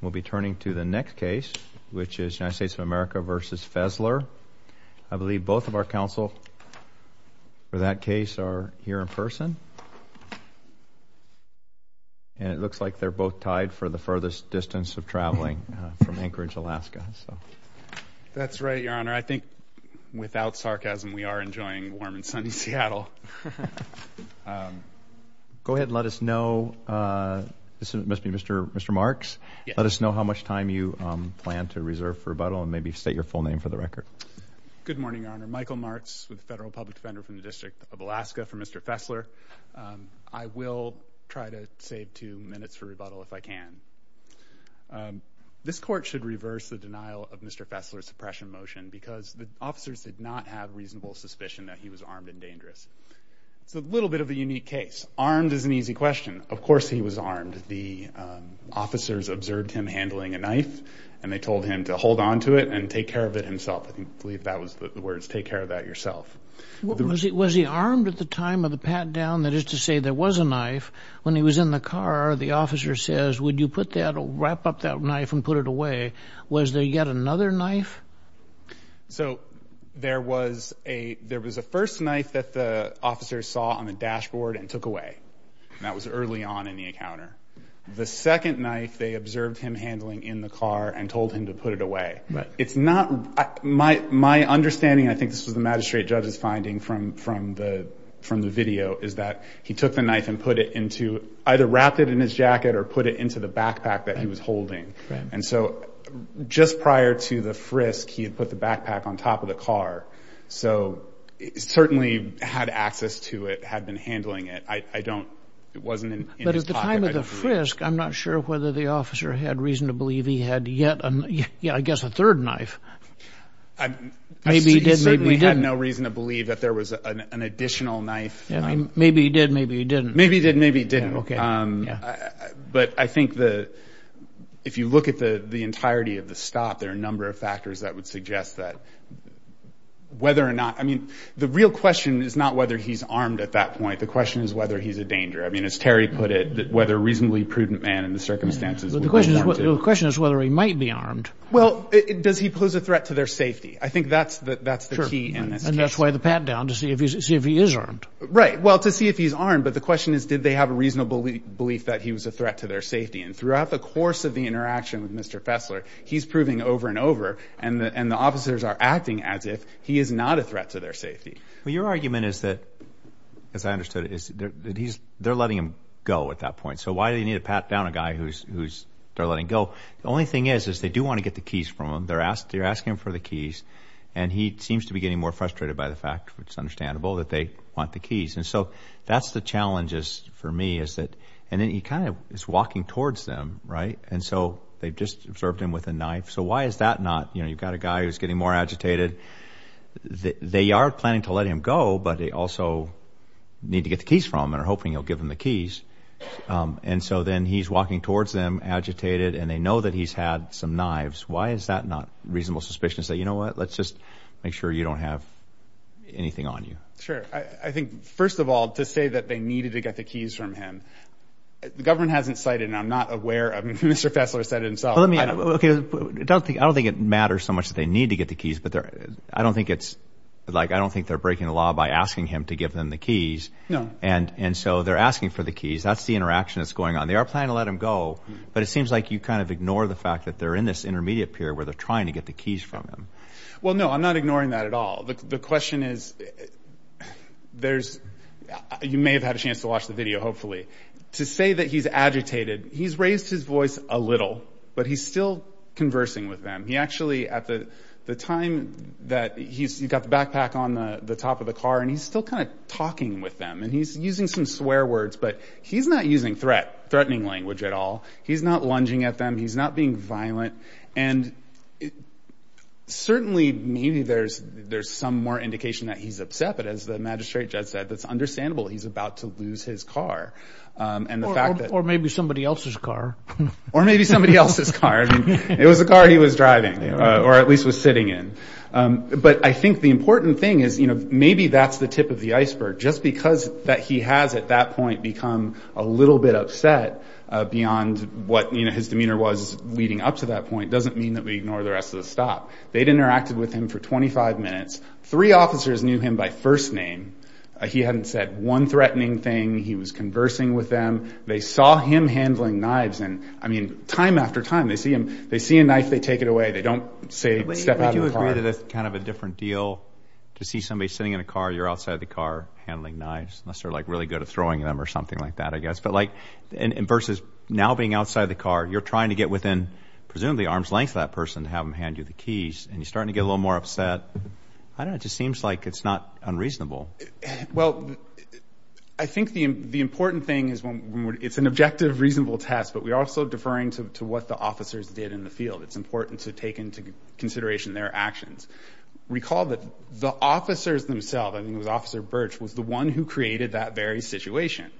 We'll be turning to the next case, which is United States of America v. Fesler. I believe both of our counsel for that case are here in person. And it looks like they're both tied for the furthest distance of traveling from Anchorage, Alaska. That's right, Your Honor. I think, without sarcasm, we are enjoying warm and sunny Seattle. Go ahead and let us know. This must be Mr. Marks. Let us know how much time you plan to reserve for rebuttal and maybe state your full name for the record. Good morning, Your Honor. Michael Marks with the Federal Public Defender from the District of Alaska for Mr. Fesler. I will try to save two minutes for rebuttal if I can. This Court should reverse the denial of Mr. Fesler's suppression motion because the officers did not have reasonable suspicion that he was armed and dangerous. It's a little bit of a unique case. Armed is an easy question. Of course he was armed. The officers observed him handling a knife, and they told him to hold on to it and take care of it himself. I believe that was the words, take care of that yourself. Was he armed at the time of the pat-down? That is to say, there was a knife. When he was in the car, the officer says, would you put that, wrap up that knife and put it away. Was there yet another knife? There was a first knife that the officers saw on the dashboard and took away. That was early on in the encounter. The second knife they observed him handling in the car and told him to put it away. My understanding, and I think this was the magistrate judge's finding from the video, is that he took the knife and either wrapped it in his jacket or put it into the backpack that he was holding. And so just prior to the frisk, he had put the backpack on top of the car. So he certainly had access to it, had been handling it. I don't, it wasn't in his pocket. But at the time of the frisk, I'm not sure whether the officer had reason to believe he had yet, I guess, a third knife. Maybe he did, maybe he didn't. He certainly had no reason to believe that there was an additional knife. Maybe he did, maybe he didn't. Maybe he did, maybe he didn't. But I think if you look at the entirety of the stop, there are a number of factors that would suggest that whether or not, I mean, the real question is not whether he's armed at that point. The question is whether he's a danger. I mean, as Terry put it, whether a reasonably prudent man in the circumstances would be armed. The question is whether he might be armed. Well, does he pose a threat to their safety? I think that's the key in this case. And that's why the pat-down, to see if he is armed. Right. Well, to see if he's armed. But the question is, did they have a reasonable belief that he was a threat to their safety? And throughout the course of the interaction with Mr. Fessler, he's proving over and over, and the officers are acting as if he is not a threat to their safety. Well, your argument is that, as I understood it, is that they're letting him go at that point. So why do they need to pat down a guy who they're letting go? The only thing is, is they do want to get the keys from him. They're asking him for the keys. And he seems to be getting more frustrated by the fact, which is understandable, that they want the keys. And so that's the challenge for me, is that, and then he kind of is walking towards them, right? And so they've just observed him with a knife. So why is that not, you know, you've got a guy who's getting more agitated. They are planning to let him go, but they also need to get the keys from him and are hoping he'll give them the keys. And so then he's walking towards them, agitated, and they know that he's had some knives. Why is that not a reasonable suspicion to say, you know what, let's just make sure you don't have anything on you? Sure. I think, first of all, to say that they needed to get the keys from him, the government hasn't cited, and I'm not aware, Mr. Fessler said it himself. Okay, I don't think it matters so much that they need to get the keys, but I don't think it's like, I don't think they're breaking the law by asking him to give them the keys. No. And so they're asking for the keys. That's the interaction that's going on. They are planning to let him go, but it seems like you kind of ignore the fact that they're in this intermediate period where they're trying to get the keys from him. Well, no, I'm not ignoring that at all. The question is, you may have had a chance to watch the video, hopefully. To say that he's agitated, he's raised his voice a little, but he's still conversing with them. He actually, at the time that he's got the backpack on the top of the car, and he's still kind of talking with them, and he's using some swear words, but he's not using threatening language at all. He's not lunging at them. He's not being violent. And certainly maybe there's some more indication that he's upset, but as the magistrate just said, it's understandable he's about to lose his car. Or maybe somebody else's car. Or maybe somebody else's car. It was the car he was driving, or at least was sitting in. But I think the important thing is maybe that's the tip of the iceberg. Just because he has at that point become a little bit upset beyond what his demeanor was leading up to that point doesn't mean that we ignore the rest of the stop. They'd interacted with him for 25 minutes. Three officers knew him by first name. He hadn't said one threatening thing. He was conversing with them. They saw him handling knives, and, I mean, time after time, they see a knife, they take it away. They don't step out of the car. Maybe that's kind of a different deal to see somebody sitting in a car, you're outside the car handling knives, unless they're, like, really good at throwing them or something like that, I guess. But, like, versus now being outside the car, you're trying to get within presumably arm's length of that person to have them hand you the keys, and you're starting to get a little more upset. I don't know. It just seems like it's not unreasonable. Well, I think the important thing is it's an objective, reasonable test, but we're also deferring to what the officers did in the field. It's important to take into consideration their actions. Recall that the officers themselves, I think it was Officer Birch, was the one who created that very situation.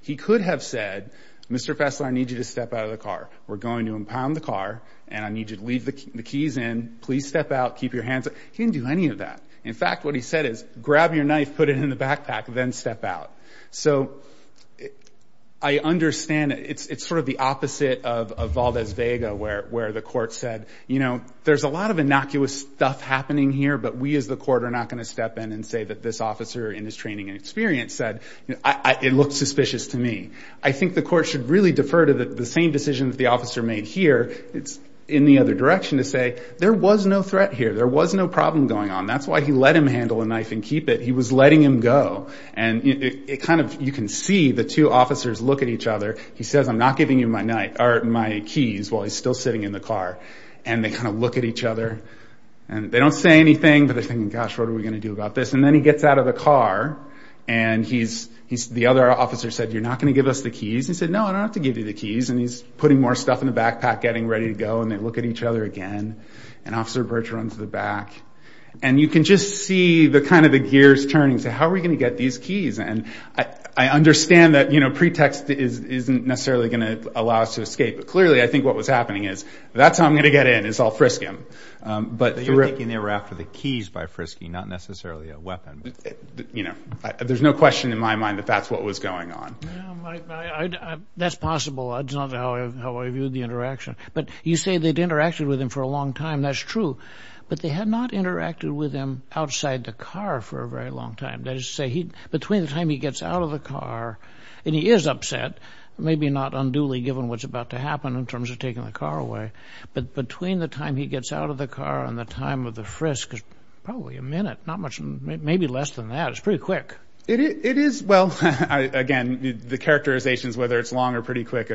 He could have said, Mr. Fessler, I need you to step out of the car. We're going to impound the car, and I need you to leave the keys in. Please step out. Keep your hands up. He didn't do any of that. In fact, what he said is, grab your knife, put it in the backpack, then step out. So I understand. It's sort of the opposite of Valdez-Vega, where the court said, you know, there's a lot of innocuous stuff happening here, but we as the court are not going to step in and say that this officer in his training and experience said, it looked suspicious to me. I think the court should really defer to the same decision that the officer made here. It's in the other direction to say, there was no threat here. There was no problem going on. That's why he let him handle a knife and keep it. He was letting him go. And you can see the two officers look at each other. He says, I'm not giving you my keys while he's still sitting in the car. And they kind of look at each other. They don't say anything, but they're thinking, gosh, what are we going to do about this? And then he gets out of the car, and the other officer said, you're not going to give us the keys? He said, no, I don't have to give you the keys. And he's putting more stuff in the backpack, getting ready to go, and they look at each other again. And Officer Birch runs to the back. And you can just see kind of the gears turning. They say, how are we going to get these keys? And I understand that pretext isn't necessarily going to allow us to escape, but clearly I think what was happening is, that's how I'm going to get in is I'll frisk him. But you're thinking they were after the keys by frisking, not necessarily a weapon. There's no question in my mind that that's what was going on. That's possible. It's not how I viewed the interaction. But you say they'd interacted with him for a long time. That's true. But they had not interacted with him outside the car for a very long time. That is to say, between the time he gets out of the car, and he is upset, maybe not unduly given what's about to happen in terms of taking the car away, but between the time he gets out of the car and the time of the frisk, probably a minute, maybe less than that. It's pretty quick. It is. Well, again, the characterization is whether it's long or pretty quick.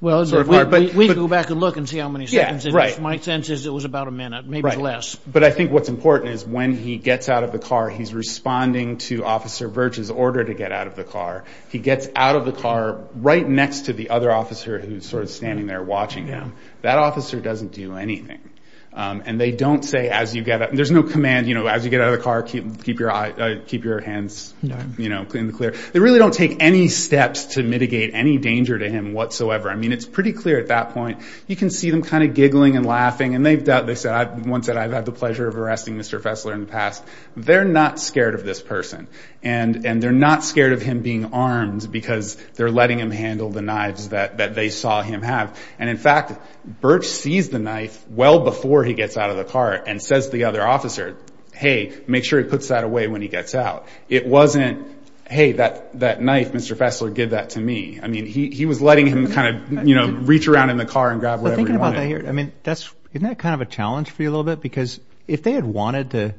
Well, we can go back and look and see how many seconds it is. Right. My sense is it was about a minute, maybe less. Right. But I think what's important is when he gets out of the car, he's responding to Officer Virch's order to get out of the car. He gets out of the car right next to the other officer who's sort of standing there watching him. That officer doesn't do anything. And they don't say as you get out. There's no command, you know, as you get out of the car, keep your hands clean and clear. They really don't take any steps to mitigate any danger to him whatsoever. I mean, it's pretty clear at that point. You can see them kind of giggling and laughing. And they said once that I've had the pleasure of arresting Mr. Fessler in the past. They're not scared of this person, and they're not scared of him being armed because they're letting him handle the knives that they saw him have. And, in fact, Virch sees the knife well before he gets out of the car and says to the other officer, hey, make sure he puts that away when he gets out. It wasn't, hey, that knife, Mr. Fessler, give that to me. I mean, he was letting him kind of, you know, reach around in the car and grab whatever he wanted. But thinking about that here, I mean, isn't that kind of a challenge for you a little bit? Because if they had wanted to,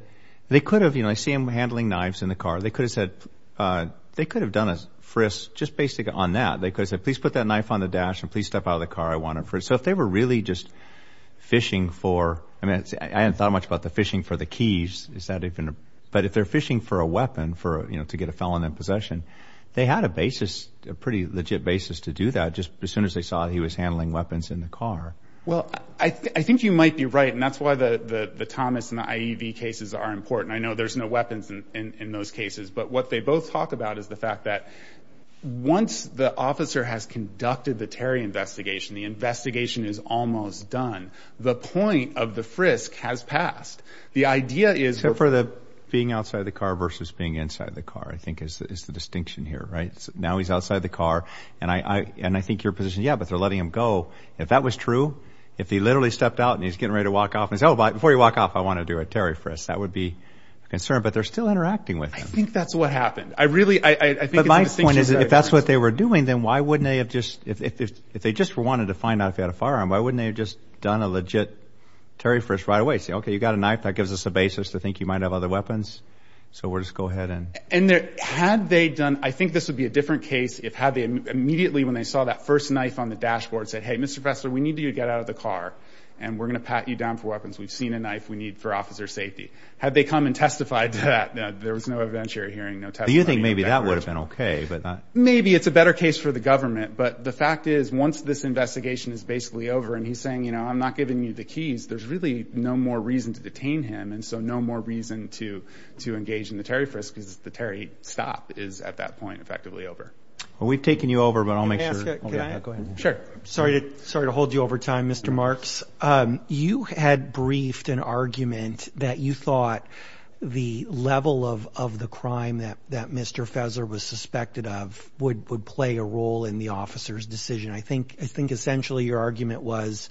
they could have, you know, I see them handling knives in the car. They could have said, they could have done a frisk just basically on that. They could have said, please put that knife on the dash and please step out of the car. So if they were really just fishing for, I mean, I hadn't thought much about the fishing for the keys. But if they're fishing for a weapon to get a felon in possession, they had a basis, a pretty legit basis to do that just as soon as they saw he was handling weapons in the car. Well, I think you might be right, and that's why the Thomas and the IEV cases are important. I know there's no weapons in those cases. But what they both talk about is the fact that once the officer has conducted the Terry investigation, the investigation is almost done, the point of the frisk has passed. Except for the being outside the car versus being inside the car, I think, is the distinction here, right? Now he's outside the car, and I think your position is, yeah, but they're letting him go. If that was true, if he literally stepped out and he's getting ready to walk off and says, oh, before you walk off, I want to do a Terry frisk, that would be a concern. But they're still interacting with him. I think that's what happened. I really, I think it's a distinction. But my point is, if that's what they were doing, then why wouldn't they have just, if they just wanted to find out if he had a firearm, why wouldn't they have just done a legit Terry frisk right away? Say, okay, you've got a knife. That gives us a basis to think you might have other weapons. So we'll just go ahead and. And had they done, I think this would be a different case if had they immediately, when they saw that first knife on the dashboard, said, hey, Mr. Fessler, we need you to get out of the car, and we're going to pat you down for weapons. We've seen a knife we need for officer safety. Had they come and testified to that, there was no eventual hearing. Do you think maybe that would have been okay? Maybe it's a better case for the government. But the fact is, once this investigation is basically over and he's saying, you know, I'm not giving you the keys, there's really no more reason to detain him, and so no more reason to engage in the Terry frisk because the Terry stop is at that point effectively over. Well, we've taken you over, but I'll make sure. Can I ask, can I? Sure. Sorry to hold you over time, Mr. Marks. You had briefed an argument that you thought the level of the crime that Mr. Fessler was suspected of would play a role in the officer's decision. I think essentially your argument was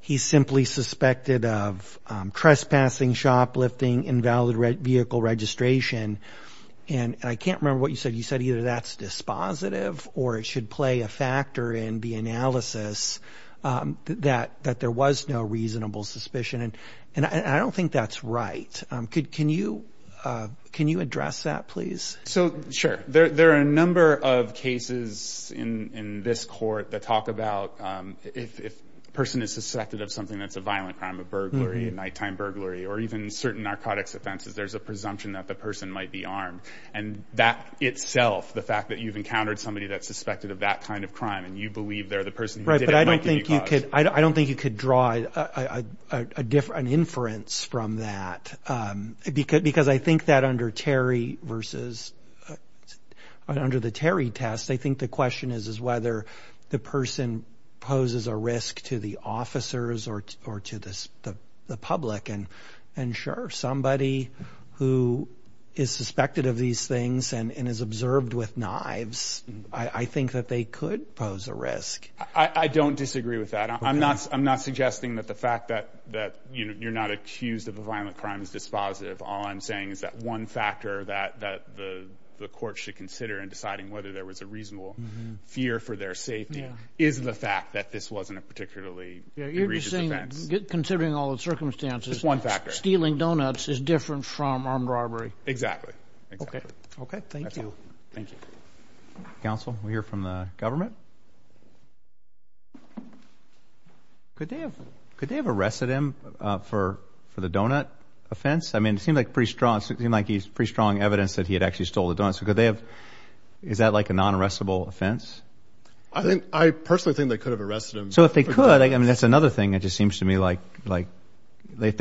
he's simply suspected of trespassing, shoplifting, invalid vehicle registration. And I can't remember what you said. You said either that's dispositive or it should play a factor in the analysis that there was no reasonable suspicion. And I don't think that's right. Can you address that, please? So, sure. There are a number of cases in this court that talk about if a person is suspected of something that's a violent crime, a burglary, a nighttime burglary, or even certain narcotics offenses, there's a presumption that the person might be armed. And that itself, the fact that you've encountered somebody that's suspected of that kind of crime and you believe they're the person who did it might give you cause. Right, but I don't think you could draw an inference from that because I think that under Terry versus under the Terry test, I think the question is whether the person poses a risk to the officers or to the public. And sure, somebody who is suspected of these things and is observed with knives, I think that they could pose a risk. I don't disagree with that. I'm not suggesting that the fact that you're not accused of a violent crime is dispositive. All I'm saying is that one factor that the court should consider in deciding whether there was a reasonable fear for their safety is the fact that this wasn't a particularly egregious offense. You're just saying, considering all the circumstances, stealing donuts is different from armed robbery. Exactly. Okay, thank you. Thank you. Counsel, we'll hear from the government. Could they have arrested him for the donut offense? I mean, it seemed like pretty strong evidence that he had actually stole the donuts. Is that like a non-arrestable offense? I personally think they could have arrested him. So if they could, I mean, that's another thing that just seems to me like if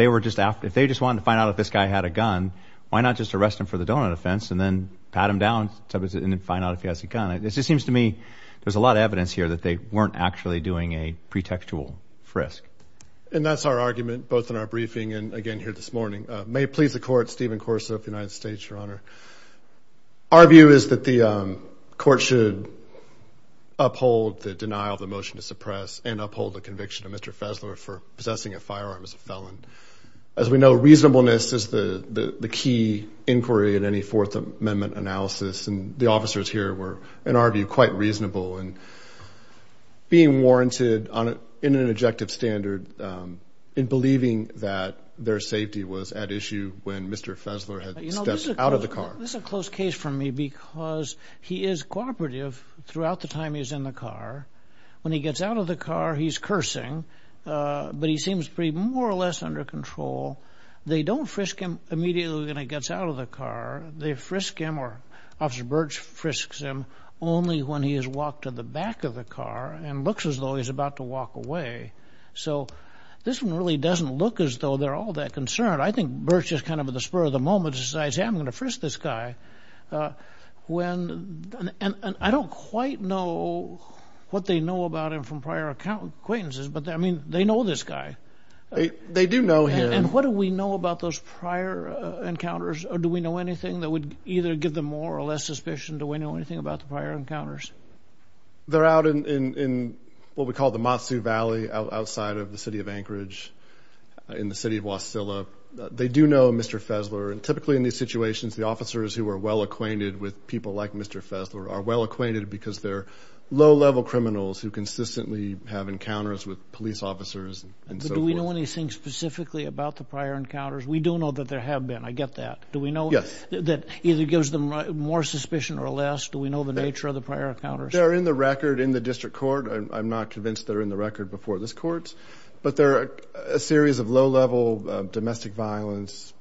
they just wanted to find out if this guy had a gun, why not just arrest him for the donut offense and then pat him down and find out if he has a gun? It just seems to me there's a lot of evidence here that they weren't actually doing a pretextual frisk. And that's our argument both in our briefing and again here this morning. May it please the Court, Stephen Corso of the United States, Your Honor. Our view is that the court should uphold the denial of the motion to suppress and uphold the conviction of Mr. Fessler for possessing a firearm as a felon. And as we know, reasonableness is the key inquiry in any Fourth Amendment analysis. And the officers here were, in our view, quite reasonable in being warranted in an objective standard in believing that their safety was at issue when Mr. Fessler had stepped out of the car. This is a close case for me because he is cooperative throughout the time he's in the car. When he gets out of the car, he's cursing, but he seems pretty more or less under control. They don't frisk him immediately when he gets out of the car. They frisk him or Officer Birch frisks him only when he has walked to the back of the car and looks as though he's about to walk away. So this one really doesn't look as though they're all that concerned. I think Birch is kind of at the spur of the moment, decides, hey, I'm going to frisk this guy. And I don't quite know what they know about him from prior acquaintances, but, I mean, they know this guy. They do know him. And what do we know about those prior encounters? Do we know anything that would either give them more or less suspicion? Do we know anything about the prior encounters? They're out in what we call the Matsu Valley outside of the city of Anchorage in the city of Wasilla. They do know Mr. Fessler. And typically in these situations, the officers who are well-acquainted with people like Mr. Fessler are well-acquainted because they're low-level criminals who consistently have encounters with police officers and so forth. Do we know anything specifically about the prior encounters? We do know that there have been. I get that. Do we know that either gives them more suspicion or less? Do we know the nature of the prior encounters? They're in the record in the district court. I'm not convinced they're in the record before this court. But they're a series of low-level domestic violence,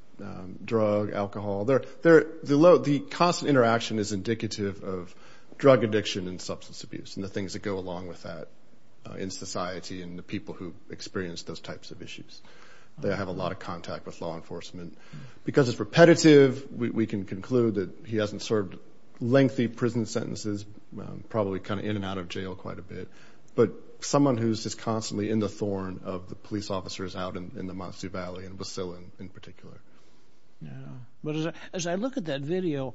drug, alcohol. The constant interaction is indicative of drug addiction and substance abuse and the things that go along with that in society and the people who experience those types of issues. They have a lot of contact with law enforcement. Because it's repetitive, we can conclude that he hasn't served lengthy prison sentences, probably kind of in and out of jail quite a bit. But someone who's just constantly in the thorn of the police officers out in the Montessu Valley and in Basilan in particular. Yeah. But as I look at that video,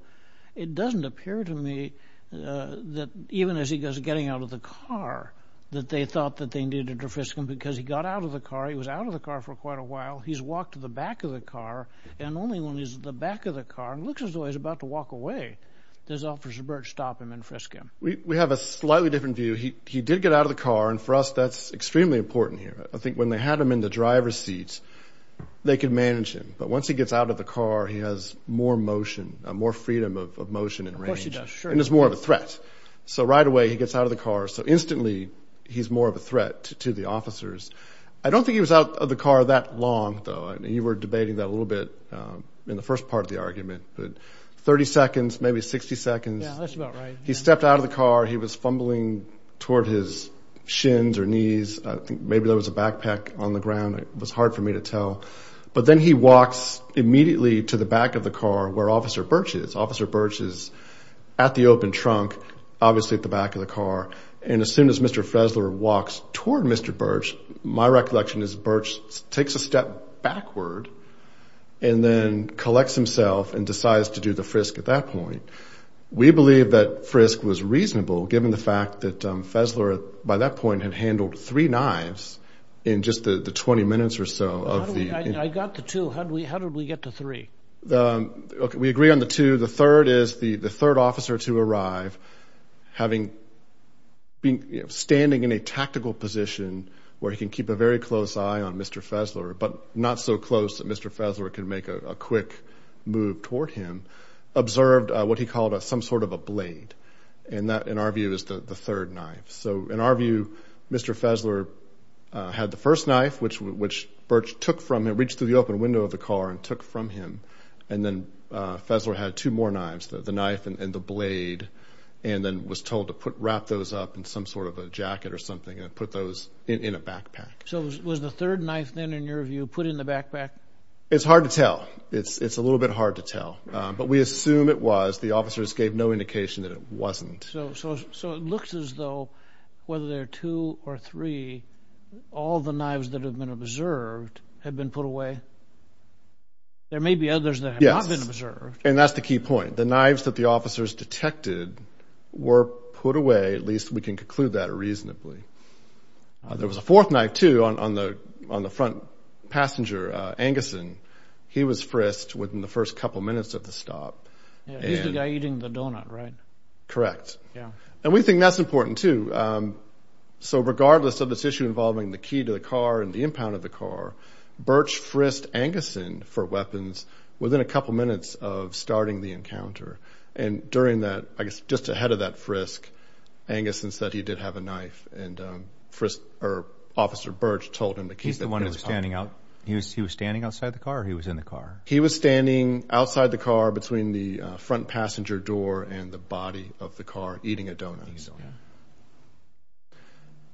it doesn't appear to me that even as he goes getting out of the car that they thought that they needed to frisk him because he got out of the car. He was out of the car for quite a while. He's walked to the back of the car. And only when he's at the back of the car, it looks as though he's about to walk away, does Officer Birch stop him and frisk him. We have a slightly different view. He did get out of the car. And for us, that's extremely important here. I think when they had him in the driver's seat, they could manage him. But once he gets out of the car, he has more motion, more freedom of motion and range. Of course he does. Sure. And he's more of a threat. So right away he gets out of the car. So instantly he's more of a threat to the officers. I don't think he was out of the car that long, though. You were debating that a little bit in the first part of the argument. But 30 seconds, maybe 60 seconds. Yeah, that's about right. He stepped out of the car. He was fumbling toward his shins or knees. Maybe there was a backpack on the ground. It was hard for me to tell. But then he walks immediately to the back of the car where Officer Birch is. Officer Birch is at the open trunk, obviously at the back of the car. And as soon as Mr. Fresler walks toward Mr. Birch, my recollection is Birch takes a step backward and then collects himself and decides to do the frisk at that point. We believe that frisk was reasonable given the fact that Fresler, by that point, had handled three knives in just the 20 minutes or so. I got the two. How did we get to three? We agree on the two. The third is the third officer to arrive standing in a tactical position where he can keep a very close eye on Mr. Fresler, but not so close that Mr. Fresler can make a quick move toward him, observed what he called some sort of a blade. That, in our view, is the third knife. In our view, Mr. Fresler had the first knife, which Birch reached through the open window of the car and took from him. Then Fresler had two more knives, the knife and the blade, and then was told to wrap those up in some sort of a jacket or something and put those in a backpack. Was the third knife then, in your view, put in the backpack? It's hard to tell. It's a little bit hard to tell, but we assume it was. The officers gave no indication that it wasn't. So it looks as though, whether there are two or three, all the knives that have been observed have been put away. There may be others that have not been observed. Yes, and that's the key point. The knives that the officers detected were put away. At least we can conclude that reasonably. There was a fourth knife, too, on the front passenger, Anguson. He was frisked within the first couple minutes of the stop. He's the guy eating the donut, right? Correct. And we think that's important, too. So regardless of this issue involving the key to the car and the impound of the car, Birch frisked Anguson for weapons within a couple minutes of starting the encounter. And during that, I guess just ahead of that frisk, Anguson said he did have a knife, and Officer Birch told him that he's the one who's standing out. He was standing outside the car or he was in the car? He was standing outside the car between the front passenger door and the body of the car eating a donut.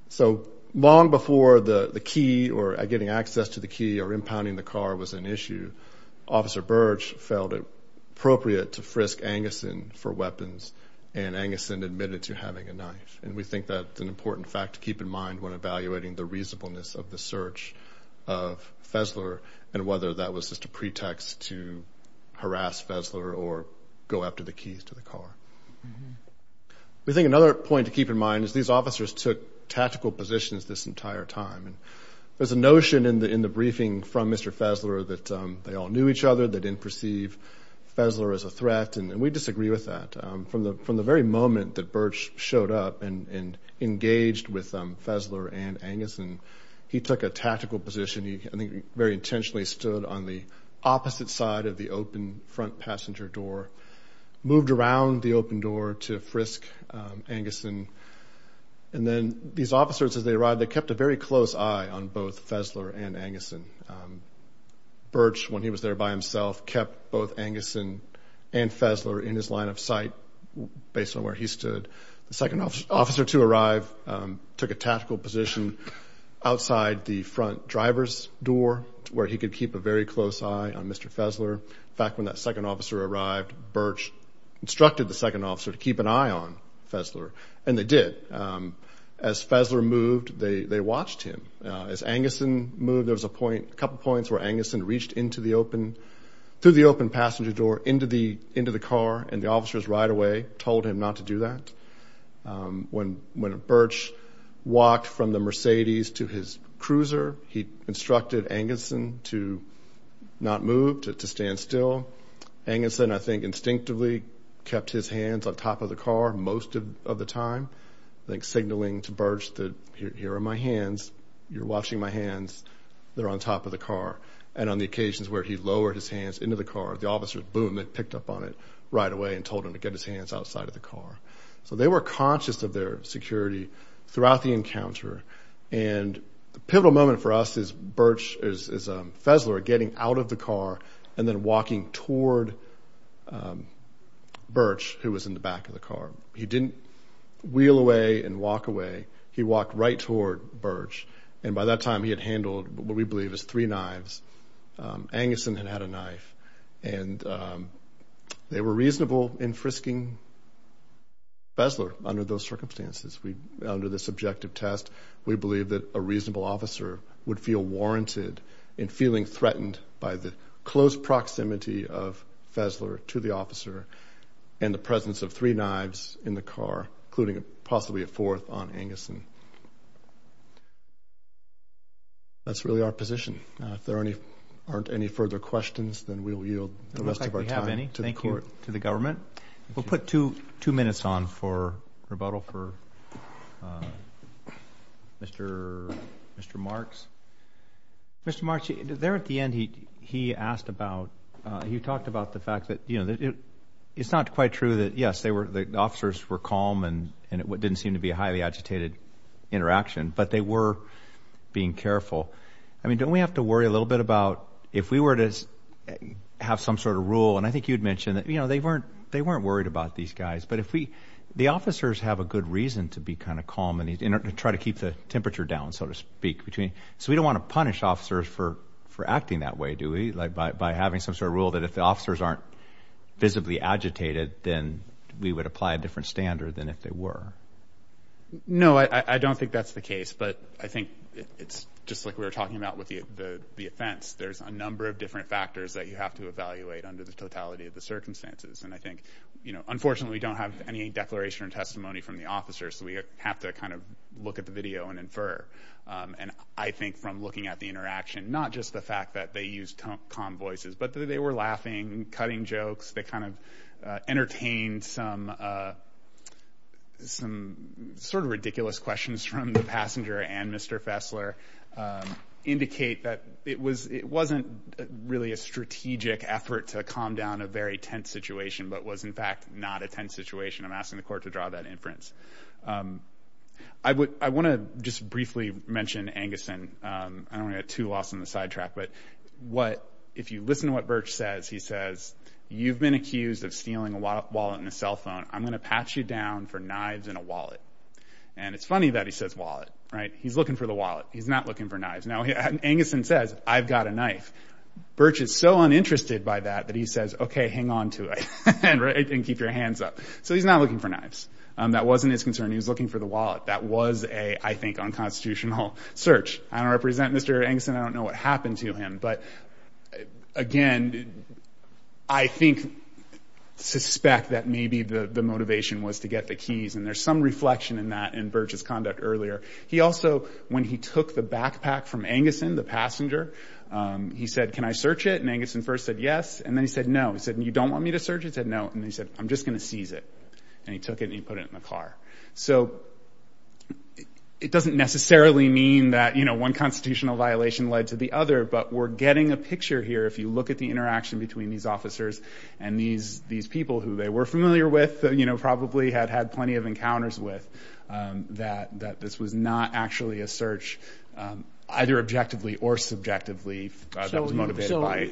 So long before the key or getting access to the key or impounding the car was an issue, Officer Birch felt it appropriate to frisk Anguson for weapons, and Anguson admitted to having a knife. And we think that's an important fact to keep in mind when evaluating the reasonableness of the search of Fesler and whether that was just a pretext to harass Fesler or go after the keys to the car. We think another point to keep in mind is these officers took tactical positions this entire time. There's a notion in the briefing from Mr. Fesler that they all knew each other, they didn't perceive Fesler as a threat, and we disagree with that. From the very moment that Birch showed up and engaged with Fesler and Anguson, he took a tactical position. He, I think, very intentionally stood on the opposite side of the open front passenger door, moved around the open door to frisk Anguson, and then these officers, as they arrived, they kept a very close eye on both Fesler and Anguson. Birch, when he was there by himself, kept both Anguson and Fesler in his line of sight based on where he stood. The second officer to arrive took a tactical position outside the front driver's door where he could keep a very close eye on Mr. Fesler. In fact, when that second officer arrived, Birch instructed the second officer to keep an eye on Fesler, and they did. As Fesler moved, they watched him. As Anguson moved, there was a couple points where Anguson reached through the open passenger door into the car, and the officers right away told him not to do that. When Birch walked from the Mercedes to his cruiser, he instructed Anguson to not move, to stand still. Anguson, I think, instinctively kept his hands on top of the car most of the time, signaling to Birch that here are my hands, you're watching my hands, they're on top of the car. And on the occasions where he lowered his hands into the car, the officers, boom, they picked up on it right away and told him to get his hands outside of the car. So they were conscious of their security throughout the encounter, and the pivotal moment for us is Birch, is Fesler getting out of the car and then walking toward Birch, who was in the back of the car. He didn't wheel away and walk away. He walked right toward Birch, and by that time he had handled what we believe is three knives. Anguson had had a knife, and they were reasonable in frisking Fesler under those circumstances. Under this objective test, we believe that a reasonable officer would feel warranted in feeling threatened by the close proximity of Fesler to the officer and the presence of three knives in the car, including possibly a fourth on Anguson. That's really our position. If there aren't any further questions, then we'll yield the rest of our time to the court. It looks like we have any. Thank you to the government. We'll put two minutes on for rebuttal for Mr. Marks. Mr. Marks, there at the end he talked about the fact that it's not quite true that, yes, the officers were calm and it didn't seem to be a highly agitated interaction, but they were being careful. Don't we have to worry a little bit about if we were to have some sort of rule, and I think you had mentioned that they weren't worried about these guys, but the officers have a good reason to be kind of calm and try to keep the temperature down, so to speak. So we don't want to punish officers for acting that way, do we, by having some sort of rule that if the officers aren't visibly agitated, then we would apply a different standard than if they were. No, I don't think that's the case. But I think it's just like we were talking about with the offense. There's a number of different factors that you have to evaluate under the totality of the circumstances. And I think, unfortunately, we don't have any declaration or testimony from the officers, so we have to kind of look at the video and infer. And I think from looking at the interaction, not just the fact that they used calm voices, but that they were laughing, cutting jokes, they kind of entertained some sort of ridiculous questions from the passenger and Mr. Fessler, indicate that it wasn't really a strategic effort to calm down a very tense situation, but was, in fact, not a tense situation. I'm asking the court to draw that inference. I want to just briefly mention Anguson. I don't want to get too lost in the sidetrack, but if you listen to what Birch says, he says, you've been accused of stealing a wallet and a cell phone. I'm going to patch you down for knives and a wallet. And it's funny that he says wallet. He's looking for the wallet. He's not looking for knives. Now, Anguson says, I've got a knife. Birch is so uninterested by that that he says, okay, hang on to it and keep your hands up. So he's not looking for knives. That wasn't his concern. He was looking for the wallet. That was a, I think, unconstitutional search. I don't represent Mr. Anguson. I don't know what happened to him. But, again, I think, suspect that maybe the motivation was to get the keys, and there's some reflection in that in Birch's conduct earlier. He also, when he took the backpack from Anguson, the passenger, he said, can I search it? And Anguson first said yes, and then he said no. He said, you don't want me to search it? He said no. And then he said, I'm just going to seize it. And he took it and he put it in the car. So it doesn't necessarily mean that one constitutional violation led to the other, but we're getting a picture here, if you look at the interaction between these officers and these people who they were familiar with, probably had had plenty of encounters with, that this was not actually a search, either objectively or subjectively, that was motivated by.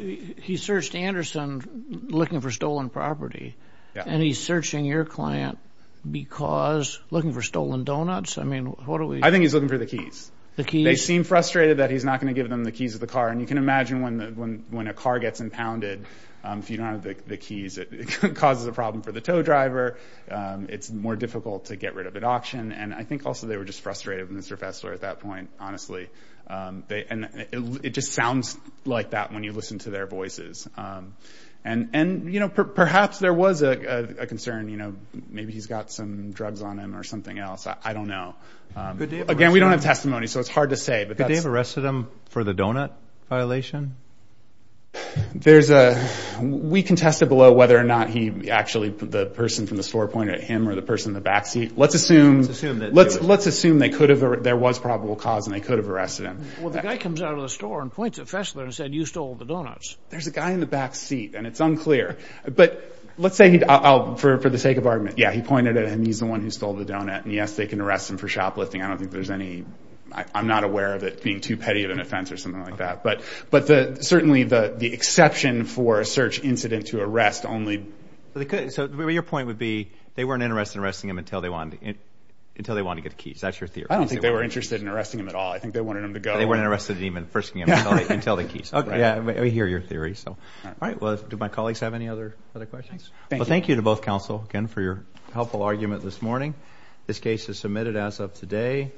He searched Anderson looking for stolen property, and he's searching your client because looking for stolen donuts? I mean, what are we... I think he's looking for the keys. The keys. They seem frustrated that he's not going to give them the keys of the car, and you can imagine when a car gets impounded, if you don't have the keys, it causes a problem for the tow driver. It's more difficult to get rid of at auction, and I think also they were just frustrated with Mr. Fessler at that point, honestly. And it just sounds like that when you listen to their voices. And, you know, perhaps there was a concern, you know, maybe he's got some drugs on him or something else. I don't know. Again, we don't have testimony, so it's hard to say, but that's... Could they have arrested him for the donut violation? There's a... We can test it below whether or not he actually, the person from the store pointed at him or the person in the back seat. Let's assume... Let's assume that... Well, the guy comes out of the store and points at Fessler and said, you stole the donuts. There's a guy in the back seat, and it's unclear. But let's say he... For the sake of argument, yeah, he pointed at him. He's the one who stole the donut. And, yes, they can arrest him for shoplifting. I don't think there's any... I'm not aware of it being too petty of an offense or something like that. But certainly the exception for a search incident to arrest only... So your point would be they weren't interested in arresting him until they wanted to get the keys. That's your theory. I don't think they were interested in arresting him at all. I think they wanted him to go. They weren't interested in even frisking him until the keys. Yeah, we hear your theory. All right, well, do my colleagues have any other questions? Thank you. Well, thank you to both counsel again for your helpful argument this morning. This case is submitted as of today.